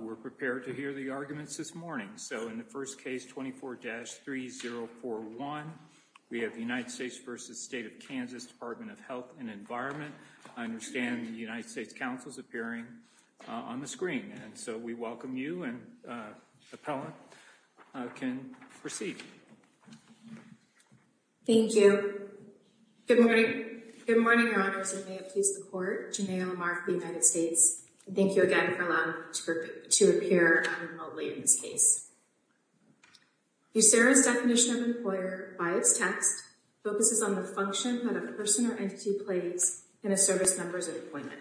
We're prepared to hear the arguments this morning, so in the first case, 24-3041, we have the United States v. State of Kansas Department of Health & Environment. I understand the United States counsel is appearing on the screen, and so we welcome you and the appellant can proceed. Thank you. Good morning. Good morning, Your Honors. I may have pleased the Court. Janay Lamar for the United States. Thank you again for allowing me to speak. Thank you for allowing me to appear remotely in this case. USERA's definition of employer, by its text, focuses on the function that a person or entity plays in a service member's appointment.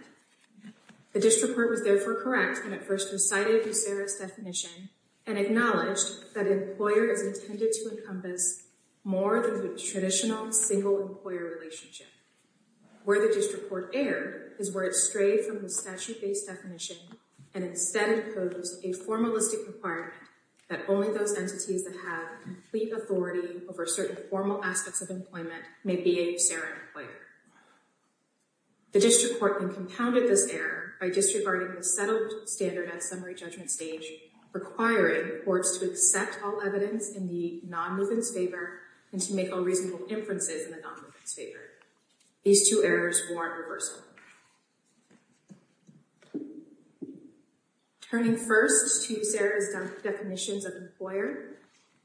The district court was therefore correct when it first recited USERA's definition and acknowledged that employer is intended to encompass more than the traditional single-employer relationship. Where the district court erred is where it strayed from the statute-based definition and instead proposed a formalistic requirement that only those entities that have complete authority over certain formal aspects of employment may be a USERA employer. The district court then compounded this error by disregarding the settled standard at summary judgment stage, requiring courts to accept all evidence in the non-movement's favor and to make all reasonable inferences in the non-movement's favor. These two errors warrant reversal. Turning first to USERA's definitions of employer,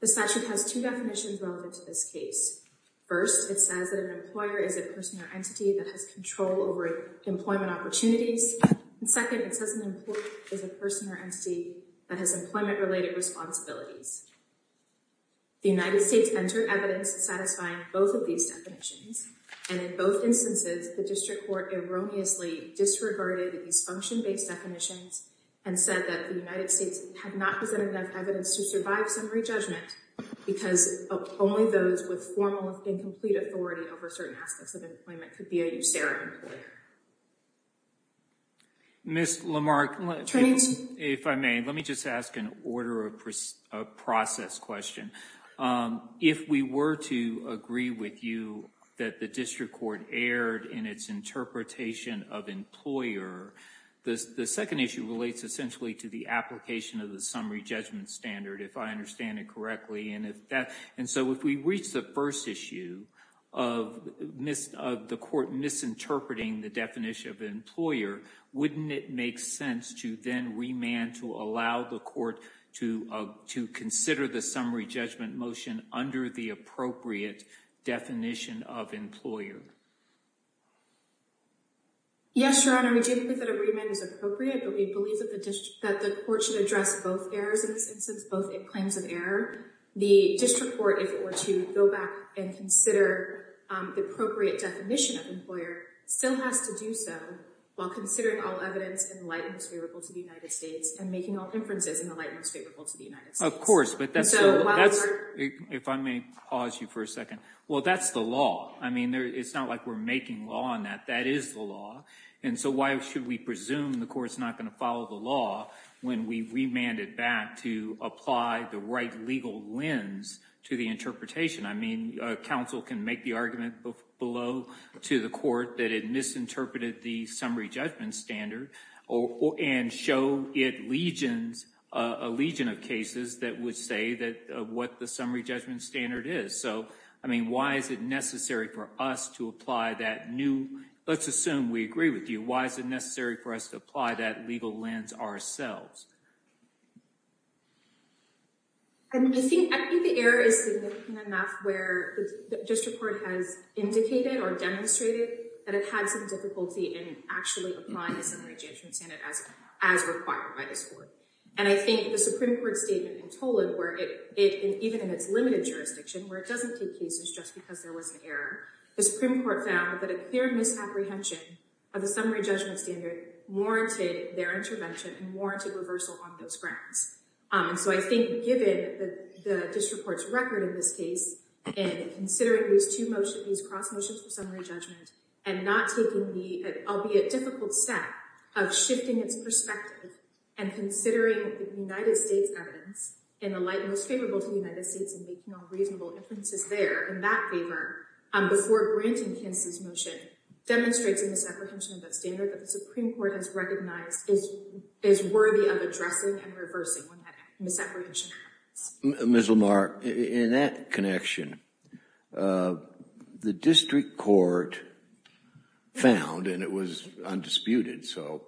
the statute has two definitions relevant to this case. First, it says that an employer is a person or entity that has control over employment opportunities. Second, it says an employer is a person or entity that has employment-related responsibilities. The United States entered evidence satisfying both of these definitions and in both instances the district court erroneously disregarded these function-based definitions and said that the United States had not presented enough evidence to survive summary judgment because only those with formal and complete authority over certain aspects of employment could be a USERA employer. Ms. Lamarck, if I may, let me just ask an order of process question. If we were to agree with you that the district court erred in its interpretation of employer, the second issue relates essentially to the application of the summary judgment standard, if I understand it correctly, and so if we reach the first issue of the court misinterpreting the definition of employer, wouldn't it make sense to then remand to allow the court to consider the summary judgment motion under the appropriate definition of employer? Yes, Your Honor, we do believe that a remand is appropriate, but we believe that the court should address both errors in this instance, both claims of error. The district court, if it were to go back and consider the appropriate definition of employer, still has to do so while considering all evidence in the light most favorable to the United States and making all inferences in the light most favorable to the United States. If I may pause you for a second. Well, that's the law. I mean, it's not like we're making law on that. That is the law, and so why should we presume the court's not going to follow the law when we remand it back to apply the right legal lens to the interpretation? I mean, counsel can make the argument below to the court that it misinterpreted the summary judgment standard and show it legions, a legion of cases that would say what the summary judgment standard is. So, I mean, why is it necessary for us to apply that new, let's assume we agree with you, why is it necessary for us to apply that legal lens ourselves? I mean, I think the error is significant enough where the district court has indicated or demonstrated that it had some difficulty in actually applying the summary judgment standard as required by this court. And I think the Supreme Court statement in Toled, where it, even in its limited jurisdiction, where it doesn't take cases just because there was an error, the Supreme Court found that a clear misapprehension of the summary judgment standard warranted their intervention and warranted reversal on those grounds. And so I think given the district court's record in this case, and considering these two motions, these cross motions for summary judgment, and not taking the albeit difficult step of shifting its perspective and considering the United States evidence in the light most favorable to the United States and making all reasonable inferences there in that favor, before granting Kinsey's motion, demonstrates a misapprehension of that standard that the Supreme Court has recognized is worthy of addressing and reversing when that misapprehension happens. Ms. Lamar, in that connection, the district court found, and it was undisputed, so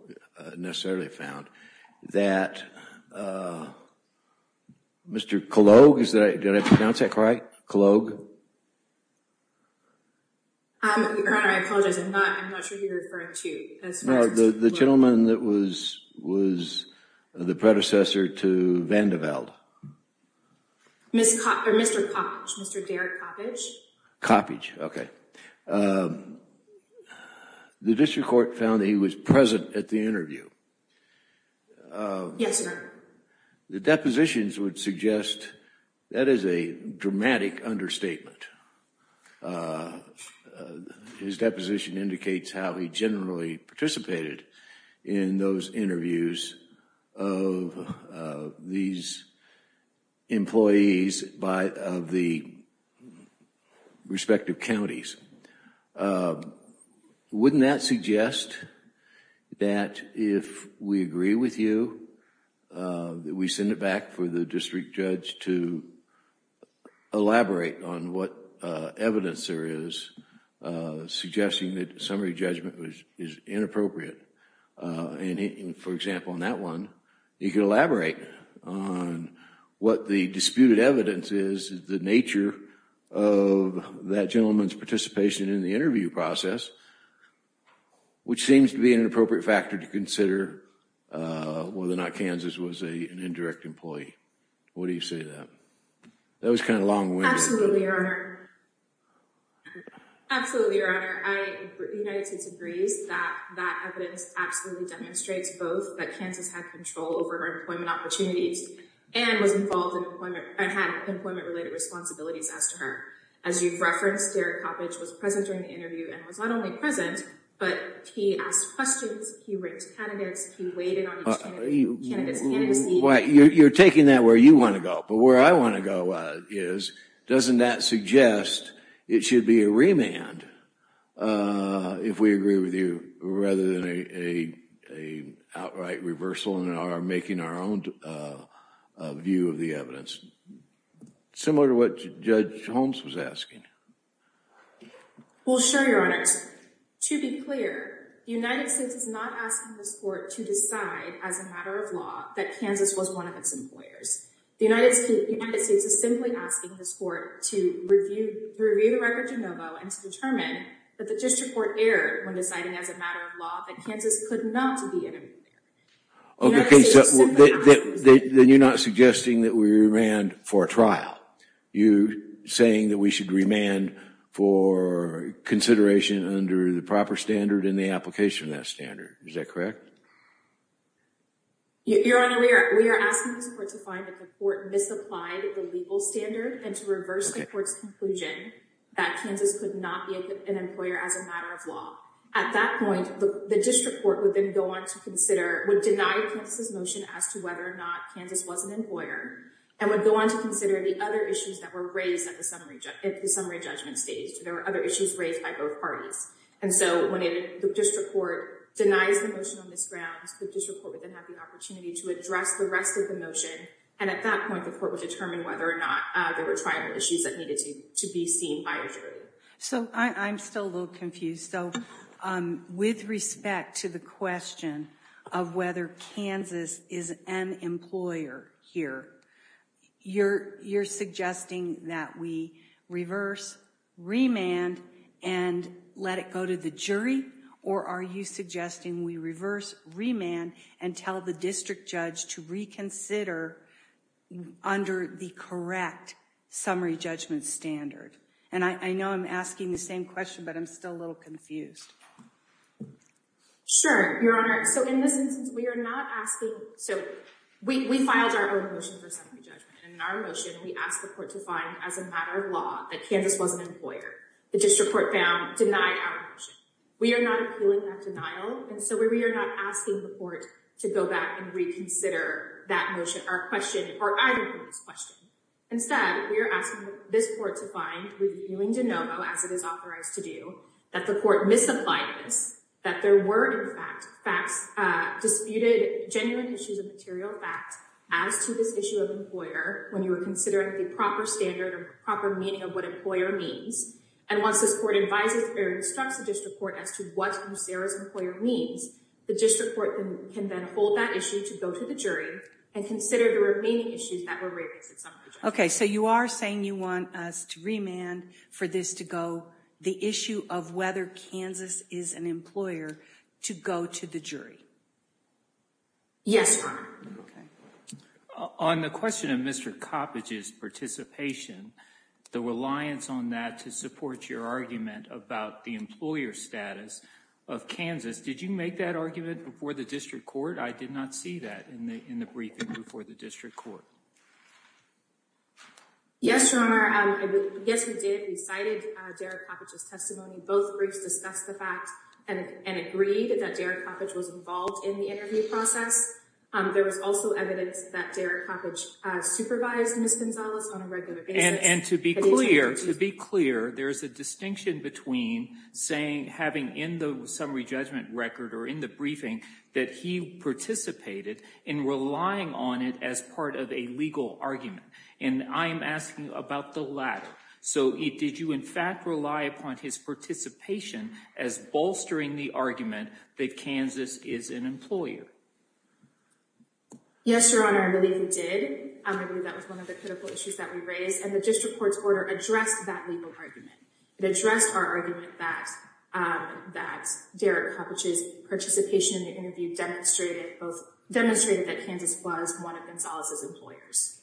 necessarily found, that Mr. Kalogue, did I pronounce that right? Kalogue? Your Honor, I apologize, I'm not sure who you're referring to. No, the gentleman that was the predecessor to Vandervelde. Mr. Coppedge, Mr. Derek Coppedge. Coppedge, okay. The district court found that he was present at the interview. Yes, sir. The depositions would suggest that is a dramatic understatement. His deposition indicates how he generally participated in those interviews of these employees of the respective counties. Wouldn't that suggest that if we agree with you, that we send it back for the district judge to elaborate on what evidence there is suggesting that summary judgment is inappropriate? For example, in that one, you can elaborate on what the disputed evidence is, the nature of that gentleman's participation in the interview process, which seems to be an inappropriate factor to consider whether or not Kansas was an indirect employee. What do you say to that? That was kind of long-winded. Absolutely, Your Honor. Absolutely, Your Honor. The United States agrees that that evidence absolutely demonstrates both that Kansas had control over her employment opportunities and had employment-related responsibilities as to her. As you've referenced, Derek Coppedge was present during the interview and was not only present, but he asked questions, he ranked candidates, he weighed in on each candidate's candidacy. You're taking that where you want to go, but where I want to go is, doesn't that suggest it should be a remand, if we agree with you, rather than an outright reversal in our making our own view of the evidence? Similar to what Judge Holmes was asking. Well, sure, Your Honor. To be clear, the United States is not asking this Court to decide as a matter of law that Kansas was one of its employers. The United States is simply asking this Court to review the record de novo and to determine that the district court erred when deciding as a matter of law that Kansas could not be an employer. Okay, so then you're not suggesting that we remand for a trial. You're saying that we should remand for consideration under the proper standard and the application of that standard. Is that correct? Your Honor, we are asking this Court to find that the Court misapplied the legal standard and to reverse the Court's conclusion that Kansas could not be an employer as a matter of law. At that point, the district court would then go on to consider, would deny Kansas' motion as to whether or not Kansas was an employer and would go on to consider the other issues that were raised at the summary judgment stage. There were other issues raised by both parties. And so when the district court denies the motion on this ground, the district court would then have the opportunity to address the rest of the motion, and at that point the Court would determine whether or not there were trial issues that needed to be seen by a jury. So, I'm still a little confused. So, with respect to the question of whether Kansas is an employer here, you're suggesting that we reverse, remand, and let it go to the jury? Or are you suggesting we reverse, remand, and tell the district judge to reconsider under the correct summary judgment standard? And I know I'm asking the same question, but I'm still a little confused. Sure, Your Honor. So, in this instance, we are not asking, so, we filed our own motion for summary judgment, and in our motion, we asked the Court to find, as a matter of law, that Kansas was an employer. The district court found, denied our motion. We are not appealing that denial, and so we are not asking the Court to go back and reconsider that motion or question, or either of those questions. Instead, we are asking this Court to find, reviewing de novo as it is authorized to do, that the Court misapplied this, that there were, in fact, facts, disputed genuine issues of material fact as to this issue of employer when you were considering the proper standard or proper meaning of what employer means. And once this Court advises or instructs the district court as to what Lucero's employer means, the district court can then hold that issue to go to the jury and consider the remaining issues that were raised in summary judgment. Okay, so you are saying you want us to remand for this to go, the issue of whether Kansas is an employer, to go to the jury? Yes, Your Honor. Okay. On the question of Mr. Coppedge's participation, the reliance on that to support your argument about the employer status of Kansas, did you make that argument before the district court? I did not see that in the briefing before the district court. Yes, Your Honor. Yes, we did. We cited Derek Coppedge's testimony. Both briefs discussed the fact and agreed that Derek Coppedge was involved in the interview process. There was also evidence that Derek Coppedge supervised Ms. Gonzalez on a regular basis. And to be clear, there is a distinction between saying, having in the summary judgment record or in the briefing, that he participated in relying on it as part of a legal argument. And I'm asking about the latter. So did you in fact rely upon his participation as bolstering the argument that Kansas is an employer? Yes, Your Honor, I believe we did. I believe that was one of the critical issues that we raised. And the district court's order addressed that legal argument. It addressed our argument that Derek Coppedge's participation in the interview demonstrated that Kansas was one of Ms. Gonzalez's employers.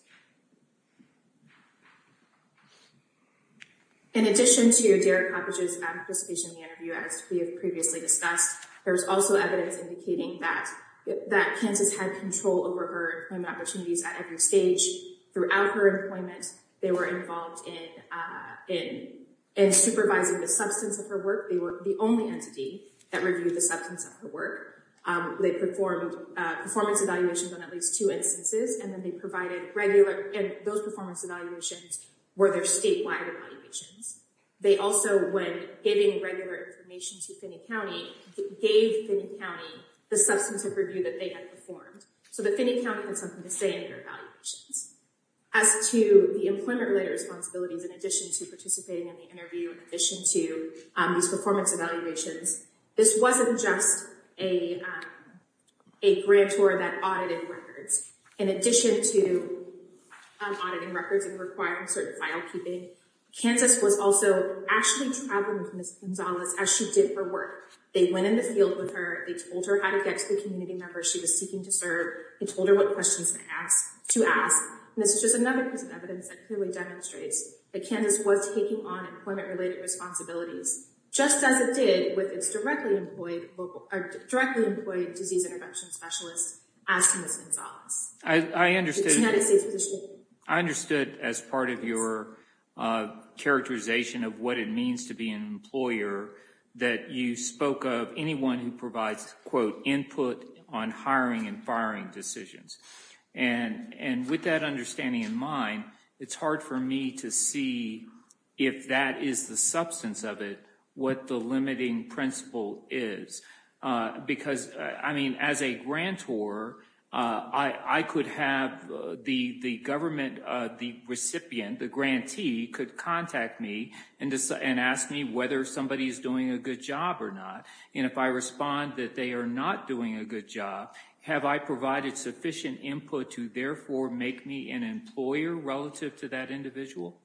In addition to Derek Coppedge's participation in the interview, as we have previously discussed, there was also evidence indicating that Kansas had control over her employment opportunities at every stage. Throughout her employment, they were involved in supervising the substance of her work. They were the only entity that reviewed the substance of her work. They performed performance evaluations on at least two instances. And then they provided regular and those performance evaluations were their statewide evaluations. They also, when giving regular information to Finney County, gave Finney County the substance of review that they had performed. So that Finney County had something to say in their evaluations. As to the employment related responsibilities in addition to participating in the interview in addition to these performance evaluations, this wasn't just a grantor that audited records. In addition to auditing records and requiring certain file keeping, Kansas was also actually traveling with Ms. Gonzalez as she did her work. They went in the field with her. They told her how to get to the community members she was seeking to serve. They told her what questions to ask. This is just another piece of evidence that clearly demonstrates that Kansas was taking on employment related responsibilities just as it did with its directly employed disease intervention specialist as Ms. Gonzalez. I understood as part of your characterization of what it means to be an employer that you spoke of anyone who provides input on hiring and firing decisions. With that understanding in mind, it's hard for me to see if that is the substance of it, what the limiting principle is. As a grantor, I could have the government recipient, the grantee could contact me and ask me whether somebody is doing a good job or not. If I respond that they are not doing a good job, have I provided sufficient input to therefore make me an employer relative to that individual?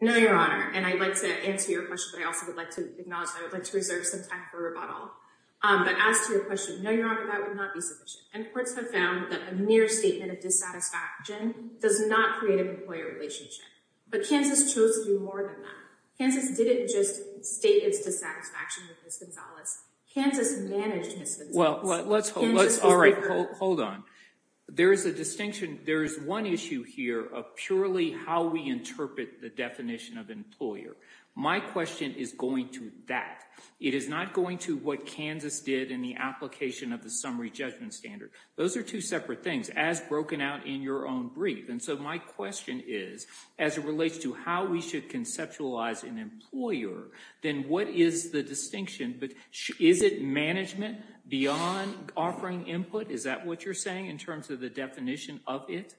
No, Your Honor. I would like to answer your question but I would also like to acknowledge that I would like to reserve some time for rebuttal. No, Your Honor, that would not be sufficient. Courts have found that a mere statement of dissatisfaction does not create an employer relationship. Kansas chose to do more than that. Kansas didn't just state its dissatisfaction with Ms. Gonzalez. Kansas managed Ms. Gonzalez. Hold on. There is a distinction. There is one issue here of purely how we interpret the definition of employer. My question is going to that. It is not going to what Kansas did in the application of the Summary Judgment Standard. Those are two separate things as broken out in your own brief. My question is, as it relates to how we should conceptualize an employer, then what is the distinction? Is it management beyond offering input? Is that what you're saying in terms of the definition of it?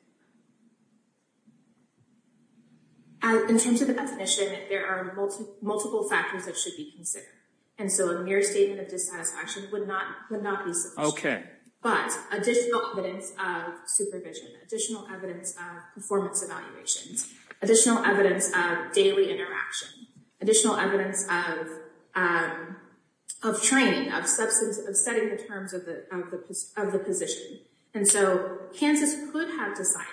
In terms of the definition, there are multiple factors that should be considered. A mere statement of dissatisfaction would not be sufficient. But additional evidence of supervision, additional evidence of performance evaluations, additional evidence of daily interaction, additional evidence of training, of setting the terms of the position. Kansas could have decided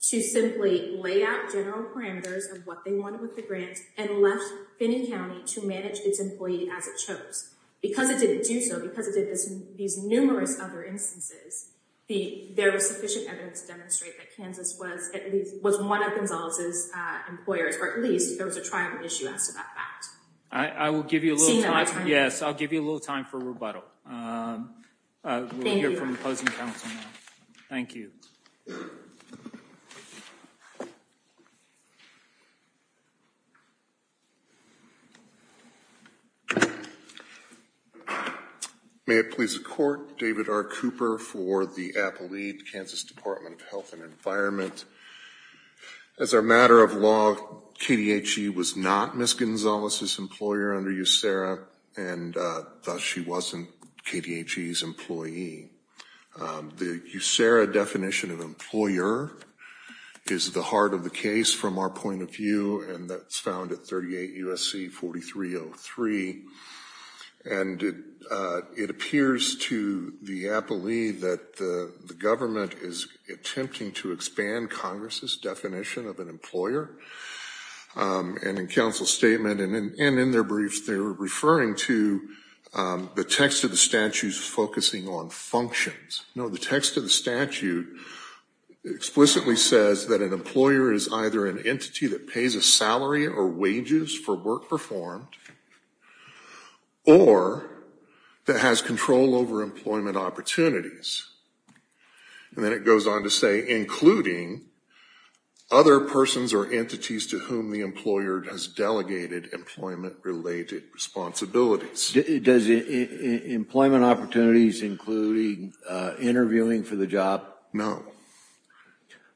to simply lay out general parameters of what they wanted with the grant and left Benning County to manage its employee as it chose. Because it didn't do so, because it did these numerous other instances, there was sufficient evidence to demonstrate that Kansas was one of Gonzales' employers, or at least there was a triumphant issue as to that fact. I will give you a little time. I'll give you a little time for rebuttal. Thank you. We'll hear from the closing counsel now. Thank you. May it please the Court, David R. Cooper for the Appellate Kansas Department of Health and Environment. As a matter of law, KDHE was not Ms. Gonzales' employer under USERRA and thus she wasn't KDHE's employee. The USERRA definition of employer is the heart of the case from our point of view and that's found at 38 U.S.C. 4303 and it appears to the appellee that the government is attempting to expand Congress' definition of an employer and in counsel's statement and in their brief, they're referring to the text of the statute focusing on functions. No, the text of the statute explicitly says that an employer is either an entity that pays a salary or wages for work performed or that has control over employment opportunities. And then it goes on to say including other persons or entities to whom the employer has delegated employment related responsibilities. Does employment opportunities including interviewing for the job?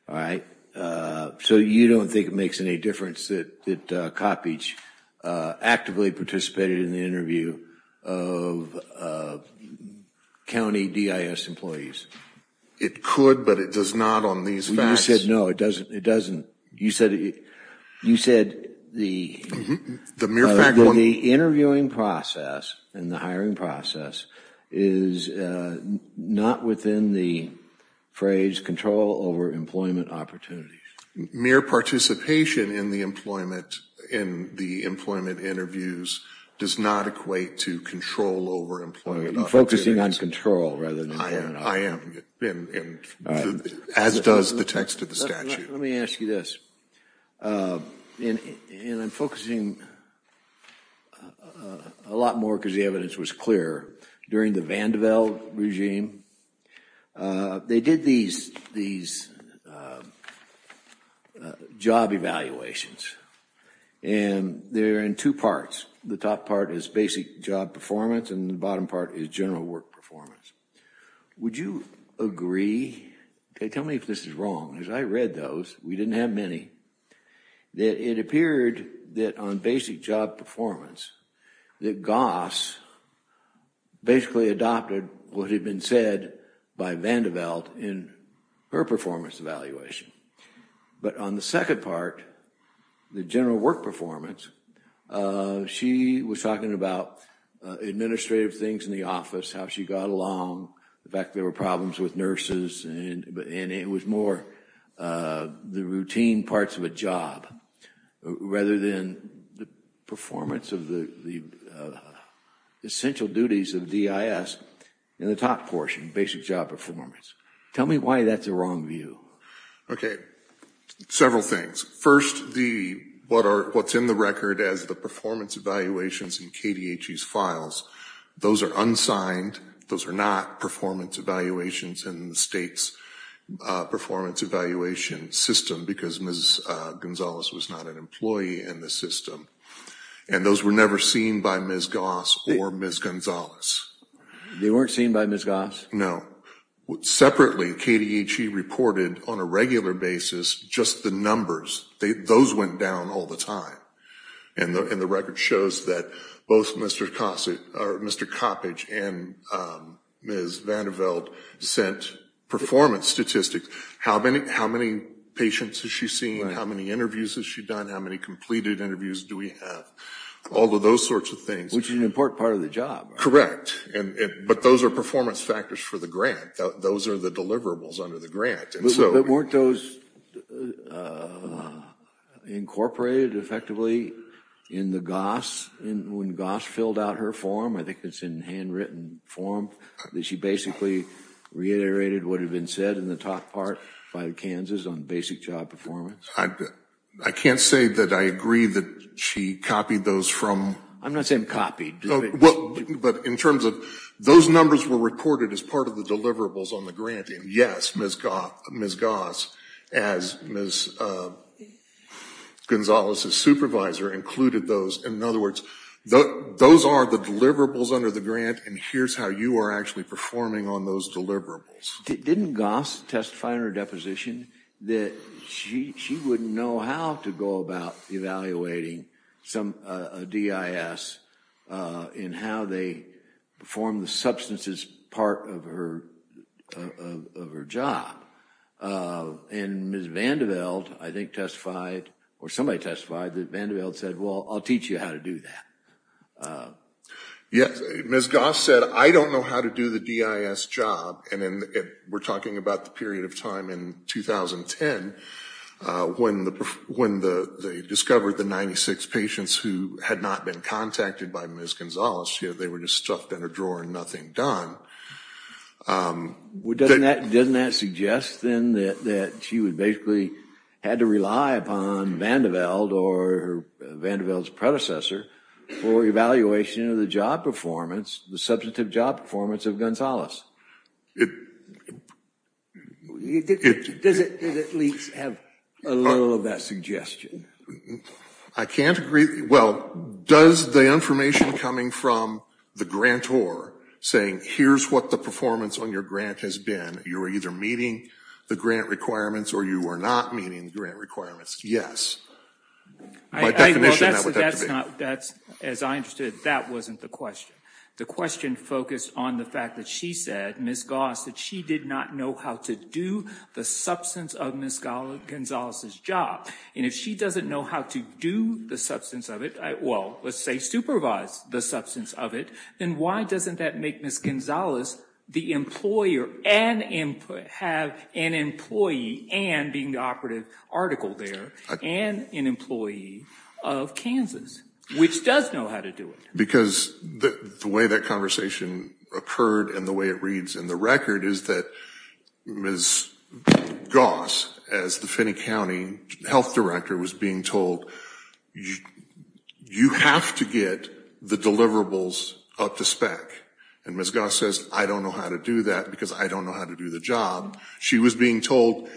Alright. So you don't think it makes any difference that Cottage actively participated in the interview of county DIS employees? It could, but it does not on these facts. You said no, it doesn't. You said the interviewing process and the hiring process is not within the phrase control over employment opportunities. Mere participation in the employment interviews does not equate to control over employment opportunities. You're focusing on control rather than employment opportunities. I am. As does the text of the statute. Let me ask you this. And I'm focusing a lot more because the evidence was clear during the Vanderbilt regime they did these these job evaluations and they're in two parts. The top part is basic job performance and the bottom part is general work performance. Would you agree tell me if this is wrong because I read those, we didn't have many that it appeared that on basic job performance that Goss basically adopted what had been said by Vanderbilt in her performance evaluation. But on the second part the general work performance she was talking about administrative things in the office, how she got along the fact there were problems with nurses and it was more the routine parts of a job rather than the performance of the essential duties of DIS in the top portion, basic job performance. Tell me why that's a wrong view. Okay. Several things. First what's in the record as the performance evaluations in KDHE's files those are unsigned those are not performance evaluations in the state's performance evaluation system because Ms. Gonzales was not an employee in the system. And those were never seen by Ms. Goss or Ms. Gonzales. They weren't seen by Ms. Goss? No. Separately KDHE reported on a regular basis just the numbers those went down all the time. And the record shows that both Mr. Coppedge and Ms. Vanderveld sent performance statistics. How many patients has she seen? How many interviews has she done? How many completed interviews do we have? All of those sorts of things. Which is an important part of the job. Correct. But those are performance factors for the grant. Those are the deliverables under the grant. But weren't those incorporated effectively in the Goss when Goss filled out her form I think it's in handwritten form that she basically reiterated what had been said in the top part by Kansas on basic job performance? I can't say that I agree that she copied those from. I'm not saying copied. But in terms of those numbers were reported as part of the deliverables on the grant and yes Ms. Goss as Ms. Vanderveld and her supervisor included those. In other words those are the deliverables under the grant and here's how you are actually performing on those deliverables. Didn't Goss testify in her deposition that she wouldn't know how to go about evaluating a DIS in how they perform the substances part of her job? And Ms. Vanderveld I think testified or somebody testified that Vanderveld said well I'll teach you how to do that. Ms. Goss said I don't know how to do the DIS job and then we're talking about the period of time in 2010 when they discovered the 96 patients who had not been contacted by Ms. Gonzales they were just stuffed in a drawer and nothing done. Doesn't that suggest then that she would basically had to rely upon Vanderveld or Vanderveld's predecessor for evaluation of the job performance the substantive job performance of Gonzales? Does it at least have a little of that suggestion? I can't agree well does the information coming from the grantor saying here's what the performance on your grant has been. You're either meeting the grant requirements or you are not meeting the grant requirements. Yes. By definition that would have to be. As I understood that wasn't the question. The question focused on the fact that she said Ms. Goss that she did not know how to do the substance of Ms. Gonzales' job and if she doesn't know how to do the substance of it well let's say supervise the substance of it then why doesn't that make Ms. Gonzales the employer and have an employee and being the operative article there and an employee of Kansas which does know how to do it? Because the way that conversation occurred and the way it reads in the record is that Ms. Goss as the Finney County Health Director was being told you have to get the deliverables up to spec and Ms. Goss says I don't know how to do that because I don't know how to do the job. She was being told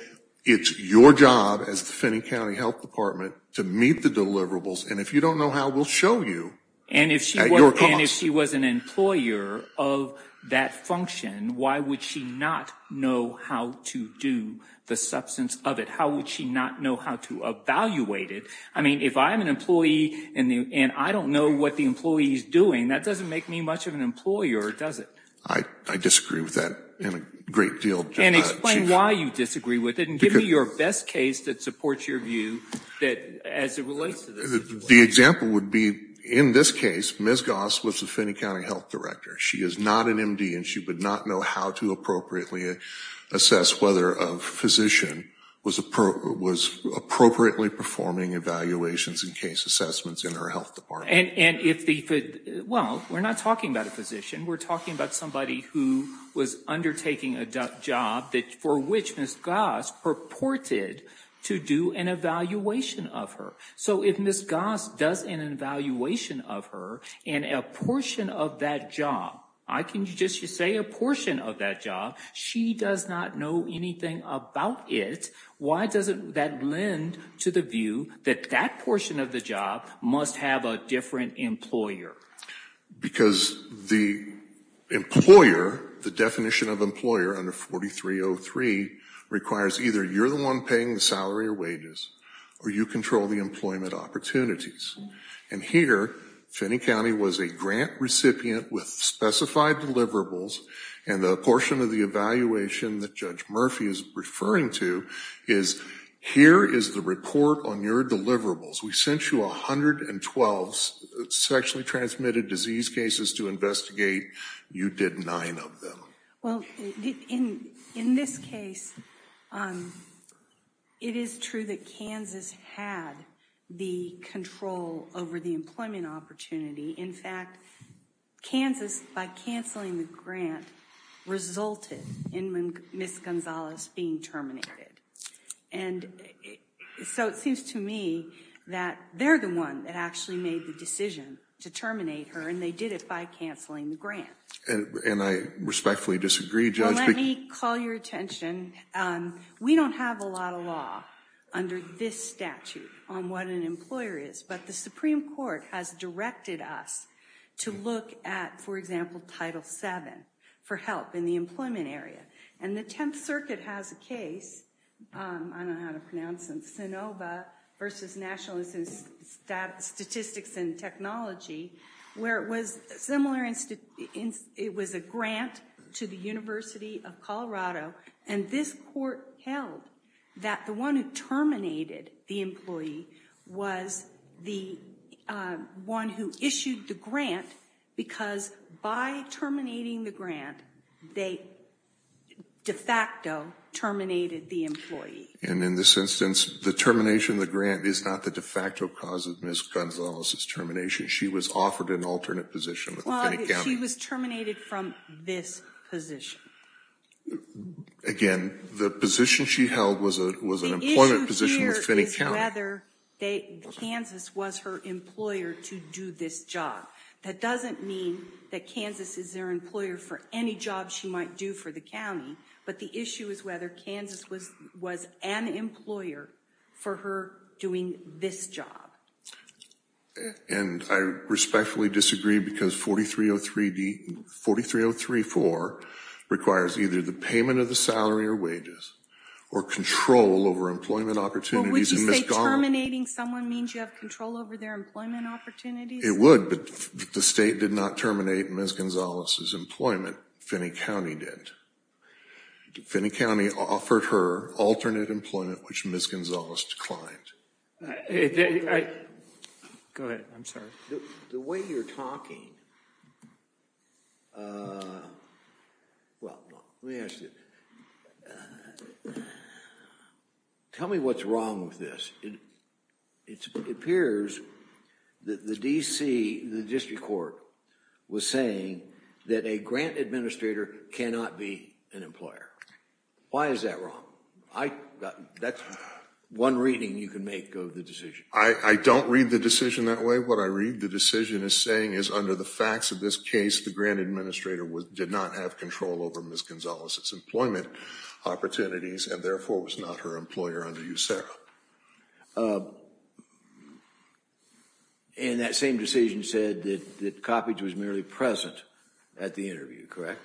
it's your job as the Finney County Health Department to meet the deliverables and if you don't know how we'll show you. And if she was an employer of that function why would she not know how to do the substance of it? How would she not know how to evaluate it? I mean if I'm an employee and I don't know what the employee is doing that doesn't make me much of an employer does it? I disagree with that in a great deal. And explain why you disagree with it and give me your best case that supports your view as it relates to this. The example would be in this case Ms. Goss was the Finney County Health Director. She is not an MD and she would not know how to appropriately assess whether a physician was appropriately performing evaluations and case assessments in her health department. Well, we're not talking about a physician. We're talking about somebody who was undertaking a job for which Ms. Goss purported to do an evaluation of her. So if Ms. Goss does an evaluation of her and a portion of that job I can just say a portion of that job, she does not know anything about it. Why doesn't that lend to the view that that portion of the job must have a different employer? Because the employer, the definition of employer under 4303 requires either you're the one paying the salary or wages or you control the employment opportunities. And here Finney County was a grant recipient with specified deliverables and the portion of the evaluation that Judge Murphy is referring to is Here is the report on your deliverables. We sent you a hundred and twelve sexually transmitted disease cases to investigate. You did nine of them. Well, in this case it is true that Kansas had the control over the employment opportunity. In fact Kansas, by canceling the grant, resulted in Ms. Gonzalez being terminated. And so it seems to me that they're the one that actually made the decision to terminate her and they did it by cancelling the grant. And I respectfully disagree, Judge. Let me call your attention. We don't have a lot of law under this statute on what an employer is, but the Supreme Court has directed us to look at, for example, Title 7 for help in the employment area. And the Tenth Circuit has a case, I don't know how to pronounce it, SANOVA versus National Statistics and Technology where it was similar it was a grant to the University of Colorado and this court held that the one who terminated the employee was the one who issued the grant because by terminating the grant, they de facto terminated the employee. And in this instance, the termination of the grant is not the de facto cause of Ms. Gonzalez's termination. She was offered an alternate position with Finney County. She was terminated from this position. Again, the position she held was an employment position with Finney County. The issue here is whether Kansas was her employer to do this job. That doesn't mean that Kansas is their employer for any job she might do for the county but the issue is whether Kansas was an employer for her doing this job. And I respectfully disagree because 4303 43034 requires either the payment of the salary or wages or control over employment opportunities. Would you say terminating someone means you have control over their employment opportunities? It would but the state did not terminate Ms. Gonzalez's employment. Finney County did. Finney County offered her alternate employment which Ms. Gonzalez declined. Go ahead. I'm sorry. The way you're talking well, let me ask you tell me what's wrong with this. It appears that the DC the district court was saying that a grant administrator cannot be an employer. Why is that wrong? That's one reading you can make of the decision. I don't read the decision that way. What I read the decision is saying is under the facts of this case the grant administrator did not have control over Ms. Gonzalez's employment opportunities and therefore was not her employer under USERRA. And that same decision said that Coppedge was merely present at the interview, correct?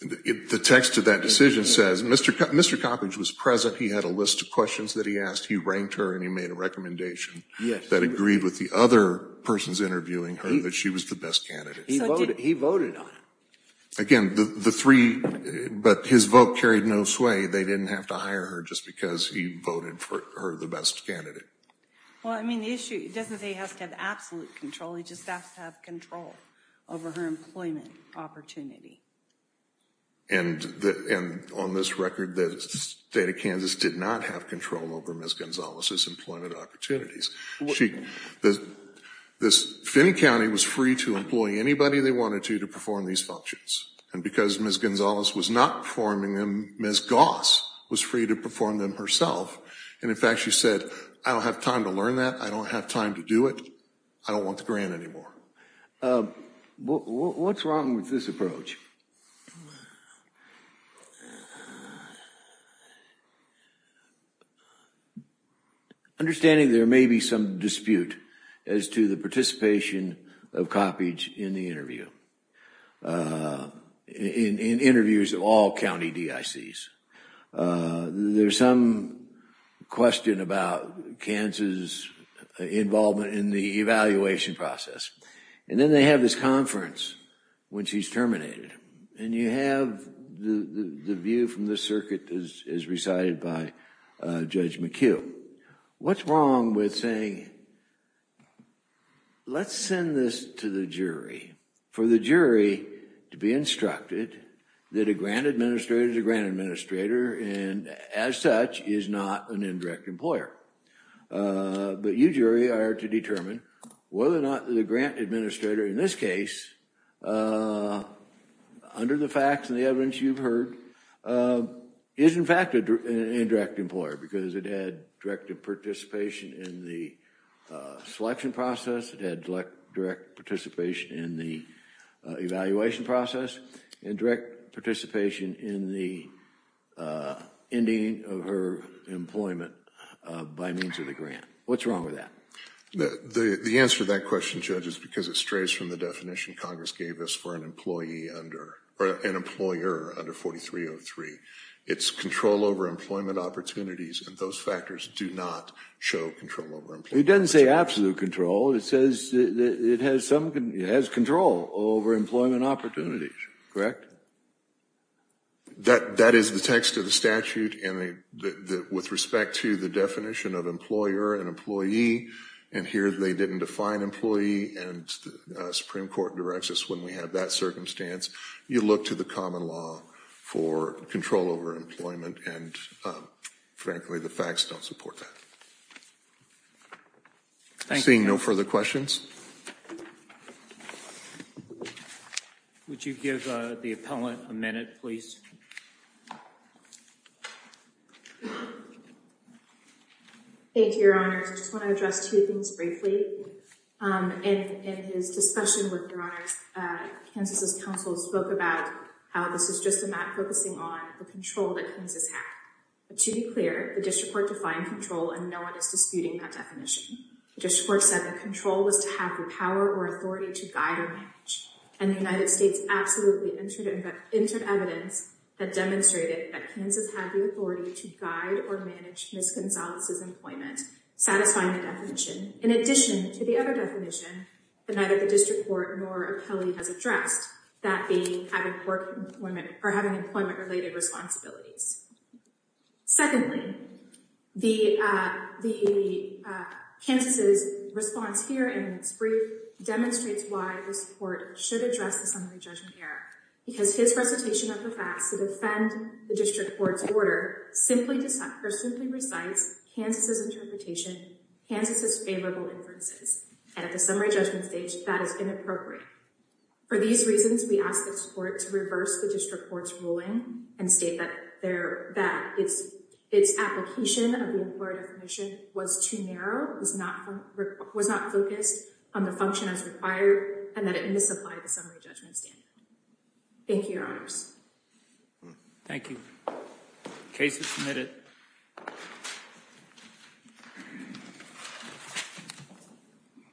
The text of that decision says Mr. Coppedge was present, he had a list of questions that he asked he ranked her and he made a recommendation that agreed with the other persons interviewing her that she was the best candidate. He voted on it. Again, the three but his vote carried no sway they didn't have to hire her just because he voted for her the best candidate. Well I mean the issue, it doesn't say he has to have absolute control, he just has to have control over her employment opportunity. And on this record the state of Kansas did not have control over Ms. Gonzalez's employment opportunities. Finn County was free to employ anybody they wanted to to perform these functions and because Ms. Gonzalez was not performing them, Ms. Goss was free to perform them herself and in fact she said, I don't have time to learn that, I don't have time to do it I don't want the grant anymore. What's wrong with this approach? Understanding there may be some dispute as to the participation of Coppedge in the interview in interviews of all county DICs there's some question about Kansas' involvement in the evaluation process and then they have this conference when she's terminated and you have the view from the circuit as recited by Judge McHugh what's wrong with saying let's send this to the jury for the jury to be instructed that a grant administrator is a grant administrator and as such is not an indirect employer but you jury are to determine whether or not the grant administrator in this case under the facts and the evidence you've heard is in fact an indirect employer because it had direct participation in the selection process it had direct participation in the evaluation process and direct participation in the ending of her employment by means of the grant what's wrong with that? The answer to that question Judge is because it strays from the definition Congress gave us for an employer under 4303 it's control over employment opportunities and those factors do not show control over employment opportunities It doesn't say absolute control it says it has control over employment opportunities correct? That is the text of the statute and with respect to the definition of employer and employee and here they didn't define employee and Supreme Court directs us when we have that circumstance you look to the common law for control over employment and frankly the facts don't support that Seeing no further questions Would you give the appellant a minute please Thank you your honors I just want to address two things briefly in his discussion with your honors Kansas' counsel spoke about how this is just a map focusing on the control that Kansas had but to be clear the district court defined control and no one is disputing that definition the district court said that control was to have the power or authority to guide or manage and the United States absolutely entered evidence that demonstrated that Kansas had the authority to guide or manage Ms. Gonzalez's employment satisfying the definition in addition to the other definition that neither the district court nor appellate has addressed that being having work or having employment related responsibilities Secondly the Kansas' response here in its brief demonstrates why this court should address the summary judgment error because his recitation of the facts to defend the district court's order simply recites Kansas' interpretation Kansas' favorable inferences and at the summary judgment stage that is inappropriate. For these reasons we ask this court to reverse the district court's ruling and state that it's application of the employer definition was too narrow was not focused on the function as required and that it misapplied the summary judgment standard Thank you your honors Thank you Case is submitted